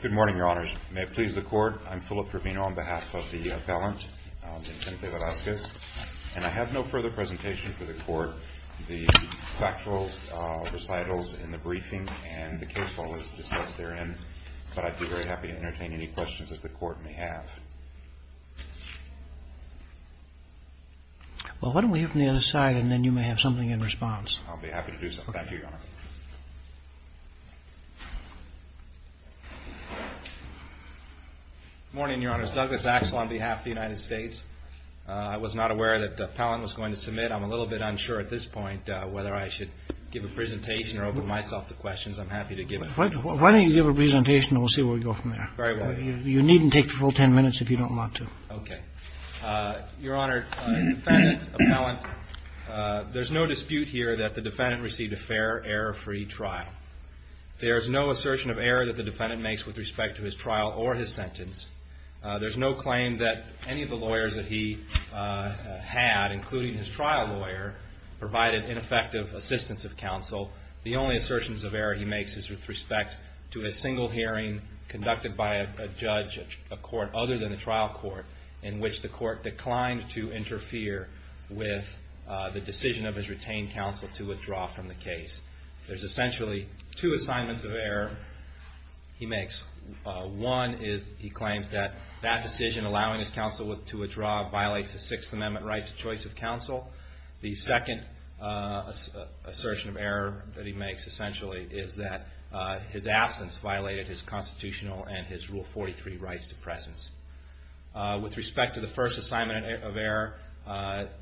Good morning, your honors. May it please the court, I'm Philip Trevino on behalf of the appellant in Senate v. Velazquez. And I have no further presentation for the court. The factual recitals in the briefing and the case law is discussed therein. But I'd be very happy to entertain any questions that the court may have. Well, why don't we hear from the other side and then you may have something in response. I'll be happy to do so. Thank you, your honor. Good morning, your honors. Douglas Axel on behalf of the United States. I was not aware that the appellant was going to submit. I'm a little bit unsure at this point whether I should give a presentation or open myself to questions. I'm happy to give it. Why don't you give a presentation and we'll see where we go from there. Very well. You needn't take the full 10 minutes if you don't want to. Okay. Your honor, defendant, appellant, there's no dispute here that the defendant received a fair, error-free trial. There is no assertion of error that the defendant makes with respect to his trial or his sentence. There's no claim that any of the lawyers that he had, including his trial lawyer, provided ineffective assistance of counsel. The only assertions of error he makes is with respect to a single hearing conducted by a judge, a court other than the trial court, in which the court declined to interfere with the decision of his retained counsel to withdraw from the case. There's essentially two assignments of error he makes. One is he claims that that decision, allowing his counsel to withdraw, the second assertion of error that he makes, essentially, is that his absence violated his constitutional and his Rule 43 rights to presence. With respect to the first assignment of error,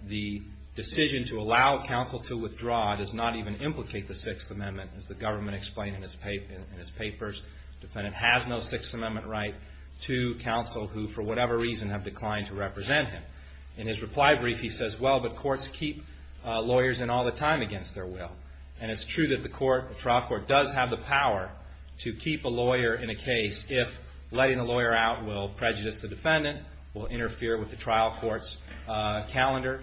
the decision to allow counsel to withdraw does not even implicate the Sixth Amendment. As the government explained in his papers, defendant has no Sixth Amendment right to counsel who, for whatever reason, have declined to represent him. In his reply brief, he says, well, but courts keep lawyers in all the time against their will. And it's true that the trial court does have the power to keep a lawyer in a case if letting a lawyer out will prejudice the defendant, will interfere with the trial court's calendar.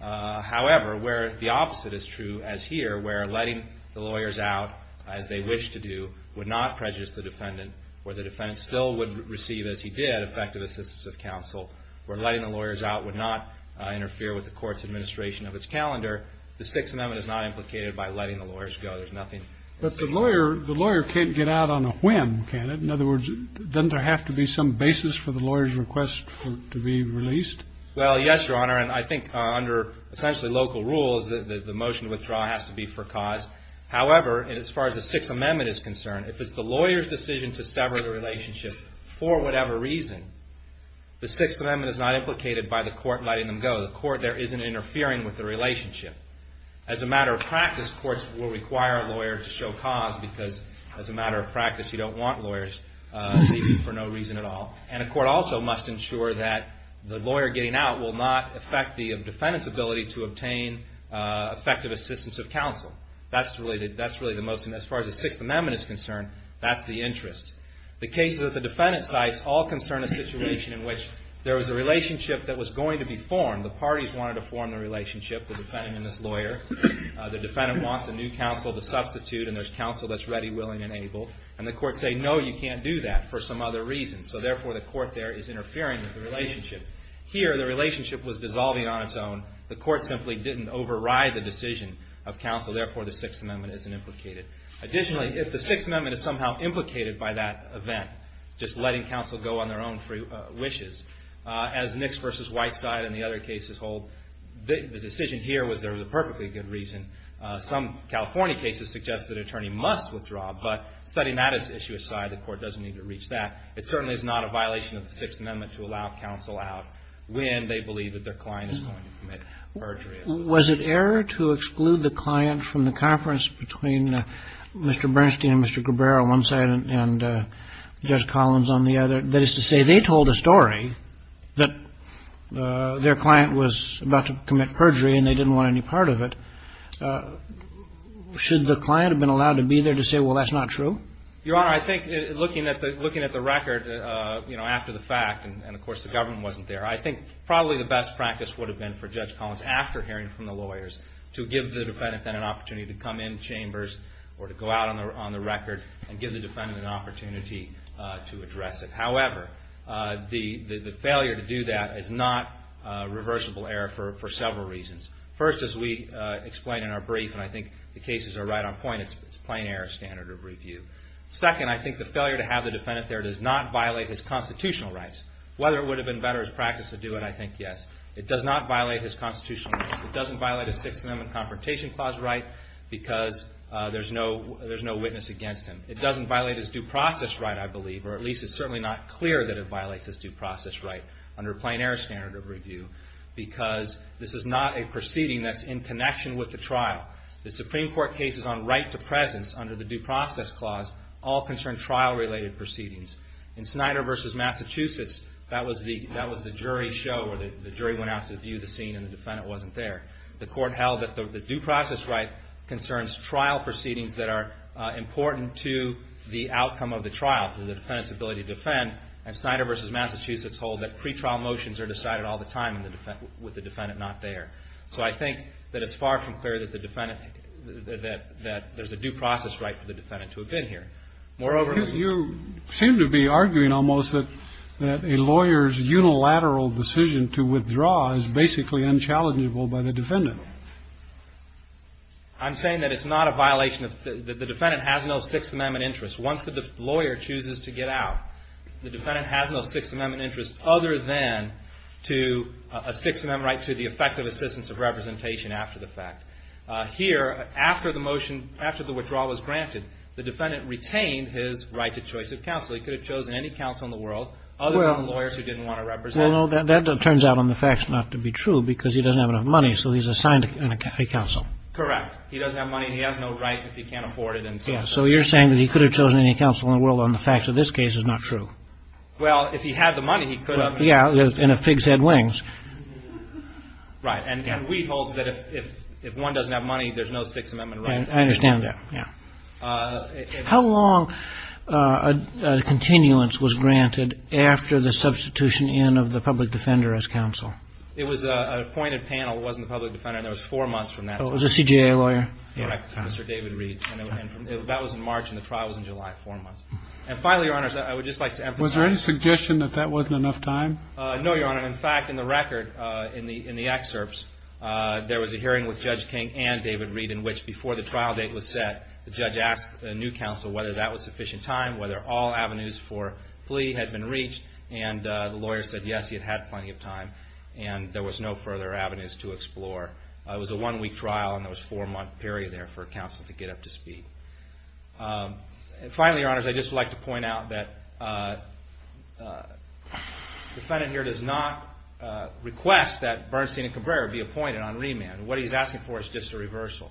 However, where the opposite is true, as here, where letting the lawyers out, as they wish to do, would not prejudice the defendant, where the defendant still would receive, as he did, effective assistance of counsel, where letting the lawyers out would not interfere with the court's administration of its calendar, the Sixth Amendment is not implicated by letting the lawyers go. There's nothing. But the lawyer can't get out on a whim, can it? In other words, doesn't there have to be some basis for the lawyer's request to be released? Well, yes, Your Honor. And I think under, essentially, local rules, the motion to withdraw has to be for cause. However, as far as the Sixth Amendment is concerned, if it's the lawyer's decision to sever the relationship for whatever reason, the Sixth Amendment is not implicated by the court letting them go. The court there isn't interfering with the relationship. As a matter of practice, courts will require a lawyer to show cause because, as a matter of practice, you don't want lawyers for no reason at all. And a court also must ensure that the lawyer getting out will not affect the defendant's ability to obtain effective assistance of counsel. That's really the most, as far as the Sixth Amendment is concerned, that's the interest. The cases that the defendant cites all concern a situation in which there was a relationship that was going to be formed. The parties wanted to form the relationship, the defendant and his lawyer. The defendant wants a new counsel to substitute, and there's counsel that's ready, willing, and able. And the courts say, no, you can't do that for some other reason. So therefore, the court there is interfering with the relationship. Here, the relationship was dissolving on its own. The court simply didn't override the decision of counsel. Therefore, the Sixth Amendment isn't implicated. Additionally, if the Sixth Amendment is somehow implicated by that event, just letting counsel go on their own free wishes, as Nix v. White side and the other cases hold, the decision here was there was a perfectly good reason. Some California cases suggest that an attorney must withdraw, but setting that issue aside, the court doesn't need to reach that. It certainly is not a violation of the Sixth Amendment to allow counsel out when they believe that their client is going to commit perjury. Was it error to exclude the client from the conference between Mr. Bernstein and Mr. Grabera on one side and Judge Collins on the other? That is to say, they told a story that their client was about to commit perjury and they didn't want any part of it. Should the client have been allowed to be there to say, well, that's not true? Your Honor, I think looking at the record, you know, after the fact, and of course the government wasn't there, I think probably the best practice would have been for Judge Collins, after hearing from the lawyers, to give the defendant then an opportunity to come in chambers or to go out on the record and give the defendant an opportunity to address it. However, the failure to do that is not a reversible error for several reasons. First, as we explain in our brief, and I think the cases are right on point, it's a plain error standard of review. Second, I think the failure to have the defendant there does not violate his constitutional rights. Whether it would have been better as practice to do it, I think yes. It does not violate his constitutional rights. It doesn't violate his Sixth Amendment Confrontation Clause right because there's no witness against him. It doesn't violate his due process right, I believe, or at least it's certainly not clear that it violates his due process right under a plain error standard of review because this is not a proceeding that's in connection with the trial. The Supreme Court cases on right to presence under the Due Process Clause all concern trial-related proceedings. In Snyder v. Massachusetts, that was the jury show where the jury went out to view the scene and the defendant wasn't there. The Court held that the due process right concerns trial proceedings that are important to the outcome of the trial, to the defendant's ability to defend, and Snyder v. Massachusetts hold that pretrial motions are decided all the time with the defendant not there. So I think that it's far from clear that the defendant that there's a due process right for the defendant to have been here. Moreover... You seem to be arguing almost that a lawyer's unilateral decision to withdraw is basically unchallengeable by the defendant. I'm saying that it's not a violation. The defendant has no Sixth Amendment interest. Once the lawyer chooses to get out, the defendant has no Sixth Amendment interest other than to a Sixth Amendment right to the effective assistance of representation after the fact. Here, after the motion, after the withdrawal was granted, the defendant retained his right to choice of counsel. He could have chosen any counsel in the world other than lawyers who didn't want to represent him. Well, no, that turns out on the facts not to be true because he doesn't have enough money, so he's assigned a counsel. Correct. He doesn't have money and he has no right if he can't afford it. So you're saying that he could have chosen any counsel in the world on the facts of this case is not true. Well, if he had the money, he could have. Yeah, and if pigs had wings. Right, and Wheat holds that if one doesn't have money, there's no Sixth Amendment right. I understand that, yeah. How long a continuance was granted after the substitution in of the public defender as counsel? It was an appointed panel. It wasn't the public defender, and there was four months from that. Oh, it was a CJA lawyer? Correct, Mr. David Reed. And that was in March, and the trial was in July, four months. And finally, Your Honor, I would just like to emphasize... Was there any suggestion that that wasn't enough time? No, Your Honor. In fact, in the record, in the excerpts, there was a hearing with Judge King and David Reed in which, before the trial date was set, the judge asked a new counsel whether that was sufficient time, whether all avenues for plea had been reached, and the lawyer said, yes, he had had plenty of time, and there was no further avenues to explore. It was a one-week trial, and there was a four-month period there for counsel to get up to speed. And finally, Your Honors, I'd just like to point out that the defendant here does not request that Bernstein and Cabrera be appointed on remand. What he's asking for is just a reversal.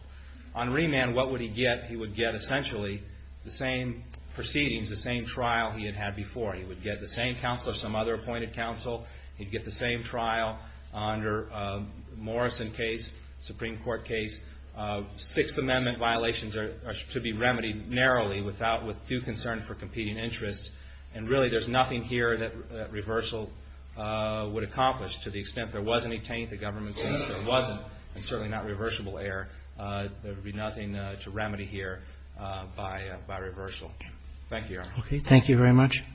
On remand, what would he get? He would get, essentially, the same proceedings, the same trial he had had before. He would get the same counsel as some other appointed counsel. He'd get the same trial under the Morrison case, the Supreme Court case. Sixth Amendment violations are to be remedied narrowly without due concern for competing interests. And really, there's nothing here that reversal would accomplish to the extent there was any taint the government says there wasn't, and certainly not reversible error. There would be nothing to remedy here by reversal. Thank you, Your Honor. Okay, thank you very much. Do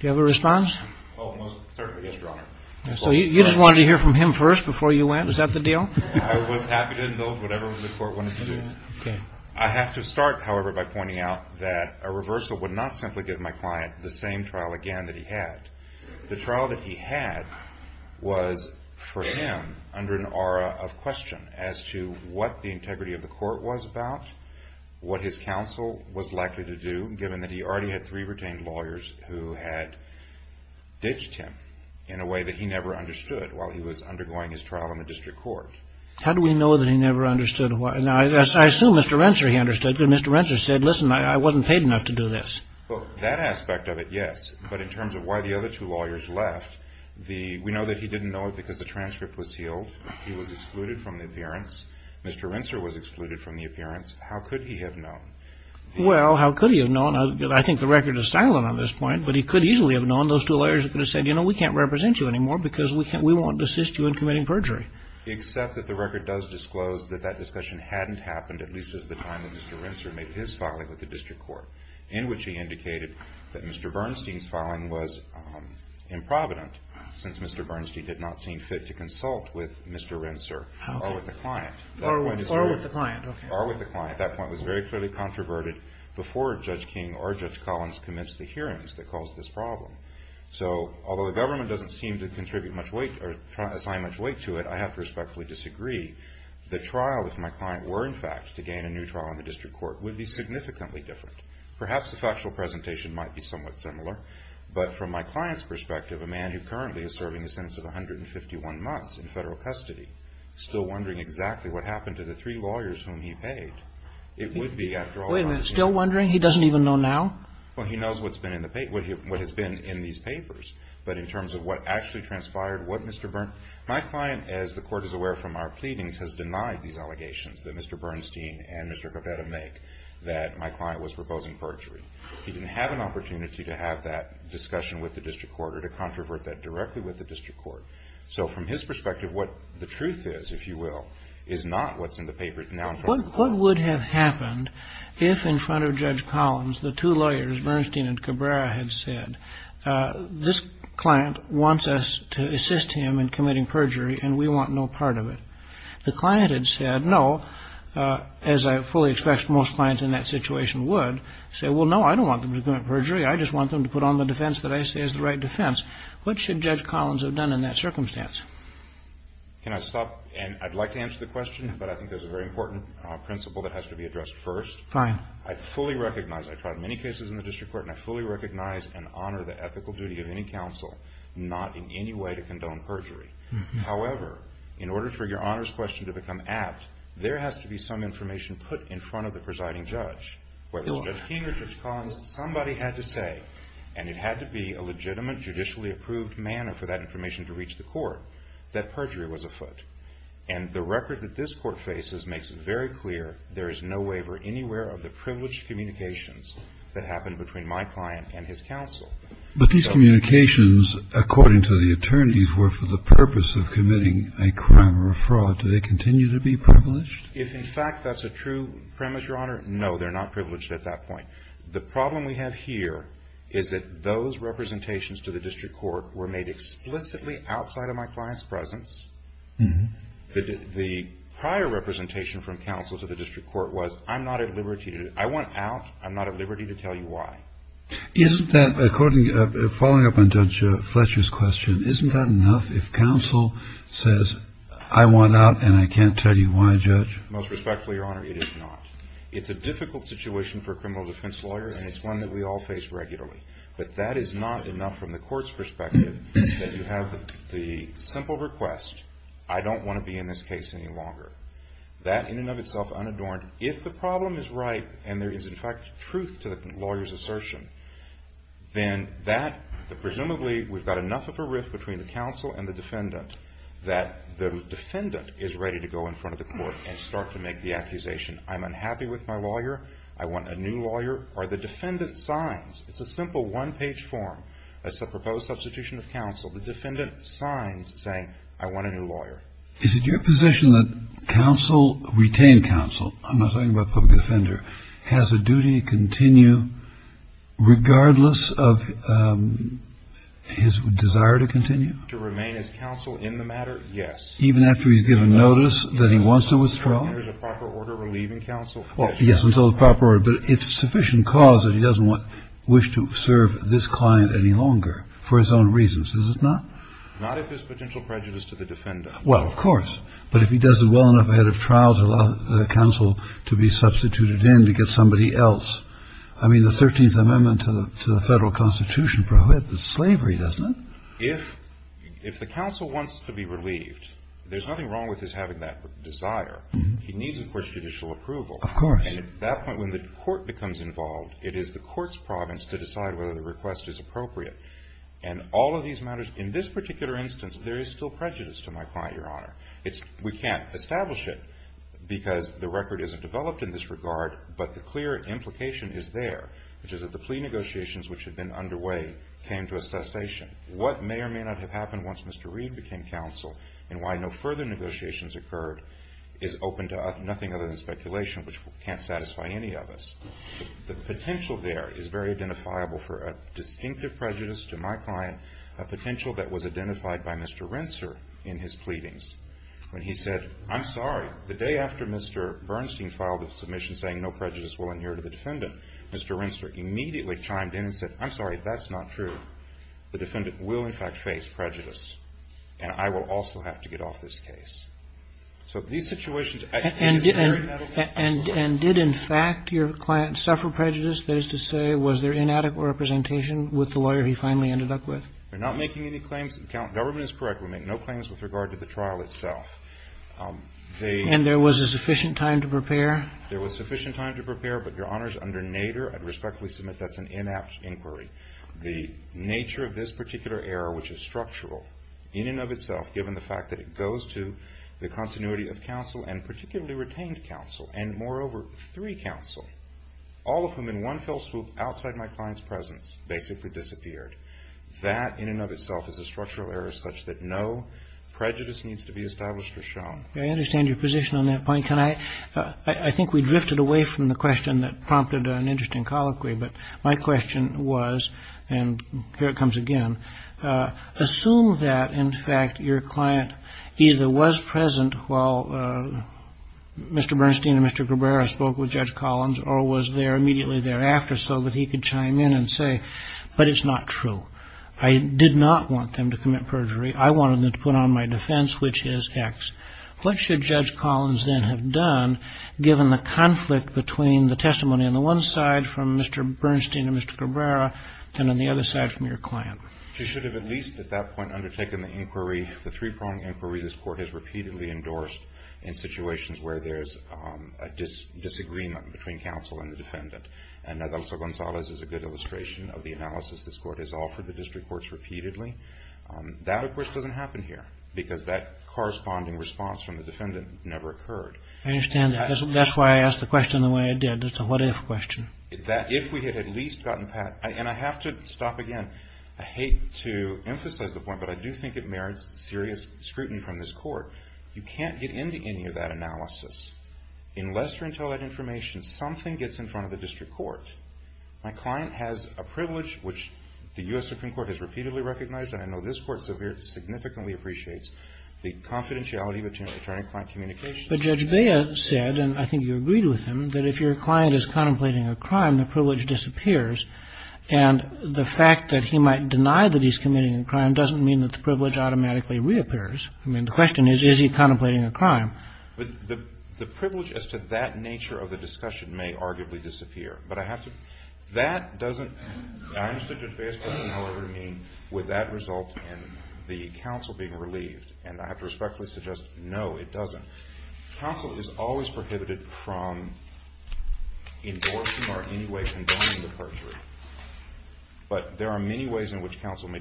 you have a response? Oh, most certainly, yes, Your Honor. So you just wanted to hear from him first before you went? Was that the deal? I was happy to invoke whatever the court wanted to do. I have to start, however, by pointing out that a reversal would not simply give my client the same trial again that he had. The trial that he had was, for him, under an aura of question as to what the integrity of the court was about, what his counsel was likely to do, given that he already had three retained lawyers who had ditched him in a way that he never understood while he was undergoing his trial in the district court. How do we know that he never understood? Now, I assume Mr. Rensser, he understood, but Mr. Rensser said, listen, I wasn't paid enough to do this. Well, that aspect of it, yes, but in terms of why the other two lawyers left, we know that he didn't know it because the transcript was sealed. He was excluded from the appearance. Mr. Rensser was excluded from the appearance. How could he have known? Well, how could he have known? I think the record is silent on this point, but he could easily have known. Those two lawyers could have said, you know, we can't represent you anymore because we won't desist you in committing perjury. Except that the record does disclose that that discussion hadn't happened at least as the time that Mr. Rensser made his filing with the district court in which he indicated that Mr. Bernstein's filing was improvident since Mr. Bernstein did not seem fit to consult with Mr. Rensser or with the client. Or with the client, okay. Or with the client. That point was very clearly controverted before Judge King or Judge Collins commenced the hearings that caused this problem. So although the government doesn't seem to contribute much weight or assign much weight to it, I have to respectfully disagree. The trial, if my client were, in fact, to gain a new trial in the district court, would be significantly different. Perhaps the factual presentation might be somewhat similar, but from my client's perspective, a man who currently is serving a sentence of 151 months in Federal custody, still wondering exactly what happened to the three lawyers whom he paid, it would be a drawback. Wait a minute. Still wondering? He doesn't even know now? Well, he knows what has been in these papers. But in terms of what actually transpired, what Mr. Bernstein, my client, as the Court is aware from our pleadings, has denied these allegations that Mr. Bernstein and Mr. Cabrera make that my client was proposing perjury. He didn't have an opportunity to have that discussion with the district court or to controvert that directly with the district court. So from his perspective, what the truth is, if you will, is not what's in the papers now. What would have happened if in front of Judge Collins, the two lawyers, Bernstein and Cabrera, had said, this client wants us to assist him in committing perjury and we want no part of it. The client had said, no, as I fully expect most clients in that situation would, say, well, no, I don't want them to commit perjury. I just want them to put on the defense that I say is the right defense. What should Judge Collins have done in that circumstance? Can I stop? And I'd like to answer the question, but I think there's a very important principle that has to be addressed first. Fine. I fully recognize, I've tried many cases in the district court, and I fully recognize and honor the ethical duty of any counsel not in any way to condone perjury. However, in order for your honors question to become apt, there has to be some information put in front of the presiding judge. Whether it's Judge King or Judge Collins, somebody had to say, and it had to be a legitimate, judicially approved manner for that information to reach the court, that perjury was afoot. And the record that this court faces makes it very clear there is no waiver anywhere of the privileged communications that happened between my client and his counsel. But these communications, according to the attorneys, were for the purpose of committing a crime or a fraud. Do they continue to be privileged? If, in fact, that's a true premise, Your Honor, no, they're not privileged at that point. The problem we have here is that those representations to the district court were made explicitly outside of my client's presence. The prior representation from counsel to the district court was, I'm not at liberty to do it. I want out. I'm not at liberty to tell you why. Isn't that, following up on Judge Fletcher's question, isn't that enough if counsel says, I want out and I can't tell you why, Judge? Most respectfully, Your Honor, it is not. It's a difficult situation for a criminal defense lawyer, and it's one that we all face regularly. But that is not enough from the court's perspective that you have the simple request, I don't want to be in this case any longer. That, in and of itself, unadorned. If the problem is right and there is, in fact, truth to the lawyer's assertion, then that, presumably, we've got enough of a rift between the counsel and the defendant that the defendant is ready to go in front of the court and start to make the accusation, I'm unhappy with my lawyer, I want a new lawyer, or the defendant signs. It's a simple one-page form. That's the proposed substitution of counsel. The defendant signs saying, I want a new lawyer. Is it your position that counsel, retained counsel, I'm not talking about public offender, has a duty to continue regardless of his desire to continue? To remain as counsel in the matter, yes. Even after he's given notice that he wants to withdraw? There is a proper order relieving counsel. Well, yes, until the proper order. But it's sufficient cause that he doesn't want, wish to serve this client any longer for his own reasons, is it not? Not if there's potential prejudice to the defendant. Well, of course. But if he does it well enough ahead of trial to allow counsel to be substituted in to get somebody else, I mean, the 13th Amendment to the Federal Constitution prohibits slavery, doesn't it? If the counsel wants to be relieved, there's nothing wrong with his having that desire. He needs, of course, judicial approval. Of course. And at that point, when the court becomes involved, it is the court's province to decide whether the request is appropriate. And all of these matters, in this particular instance, there is still prejudice to my client, Your Honor. We can't establish it because the record isn't developed in this regard, but the clear implication is there, which is that the plea negotiations which had been underway came to a cessation. What may or may not have happened once Mr. Reed became counsel and why no further negotiations occurred is open to nothing other than speculation, which can't satisfy any of us. The potential there is very identifiable for a distinctive prejudice to my client, a potential that was identified by Mr. Rensser in his pleadings. When he said, I'm sorry, the day after Mr. Bernstein filed a submission saying no prejudice will adhere to the defendant, Mr. Rensser immediately chimed in and said, I'm sorry, that's not true. The defendant will, in fact, face prejudice, and I will also have to get off this case. So these situations, I think, is very meddlesome. And did, in fact, your client suffer prejudice? That is to say, was there inadequate representation with the lawyer he finally ended up with? We're not making any claims. Government is correct. We make no claims with regard to the trial itself. And there was a sufficient time to prepare? There was sufficient time to prepare, but, Your Honors, under Nader, I'd respectfully submit that's an inapt inquiry. The nature of this particular error, which is structural in and of itself, given the fact that it goes to the continuity of counsel and particularly retained counsel and, moreover, three counsel, all of whom in one fell swoop outside my client's presence basically disappeared, that in and of itself is a structural error such that no prejudice needs to be established or shown. I understand your position on that point. I think we drifted away from the question that prompted an interesting colloquy, but my question was, and here it comes again, assume that, in fact, your client either was present while Mr. Bernstein and Mr. Cabrera spoke with Judge Collins or was there immediately thereafter so that he could chime in and say, but it's not true. I did not want them to commit perjury. I wanted them to put on my defense, which is X. What should Judge Collins then have done, given the conflict between the testimony on the one side from Mr. Bernstein and Mr. Cabrera and on the other side from your client? She should have at least at that point undertaken the inquiry, the three-pronged inquiry this Court has repeatedly endorsed in situations where there's a disagreement between counsel and the defendant. And Adelso-Gonzalez is a good illustration of the analysis this Court has offered the district courts repeatedly. That, of course, doesn't happen here because that corresponding response from the defendant never occurred. I understand that. That's why I asked the question the way I did. It's a what-if question. That if we had at least gotten past and I have to stop again, I hate to emphasize the point, but I do think it merits serious scrutiny from this Court. You can't get into any of that analysis. Unless you're into that information, something gets in front of the district court. My client has a privilege, which the U.S. Supreme Court has repeatedly recognized and I know this Court significantly appreciates, the confidentiality between attorney-client communications. But Judge Bea said, and I think you agreed with him, that if your client is contemplating a crime, the privilege disappears. And the fact that he might deny that he's committing a crime doesn't mean that the privilege automatically reappears. I mean, the question is, is he contemplating a crime? But the privilege as to that nature of the discussion may arguably disappear. But I have to – that doesn't – I understood Judge Bea's question, however, to mean would that result in the counsel being relieved. And I have to respectfully suggest, no, it doesn't. Counsel is always prohibited from endorsing or in any way condemning the perjury. But there are many ways in which counsel may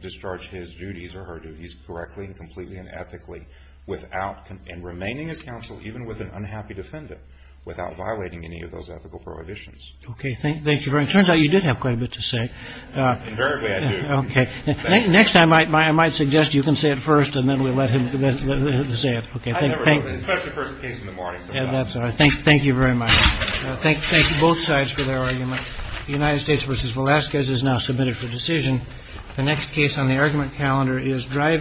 discharge his duties or her duties correctly and completely and ethically without – and remaining as counsel even with an unhappy defendant, without violating any of those ethical prohibitions. Okay. Thank you very much. It turns out you did have quite a bit to say. Invariably, I do. Okay. Next time, I might suggest you can say it first and then we'll let him say it. I never do, especially first case in the morning. I'm sorry. Thank you very much. Thank you both sides for their arguments. United States v. Velazquez is now submitted for decision. The next case on the argument calendar is…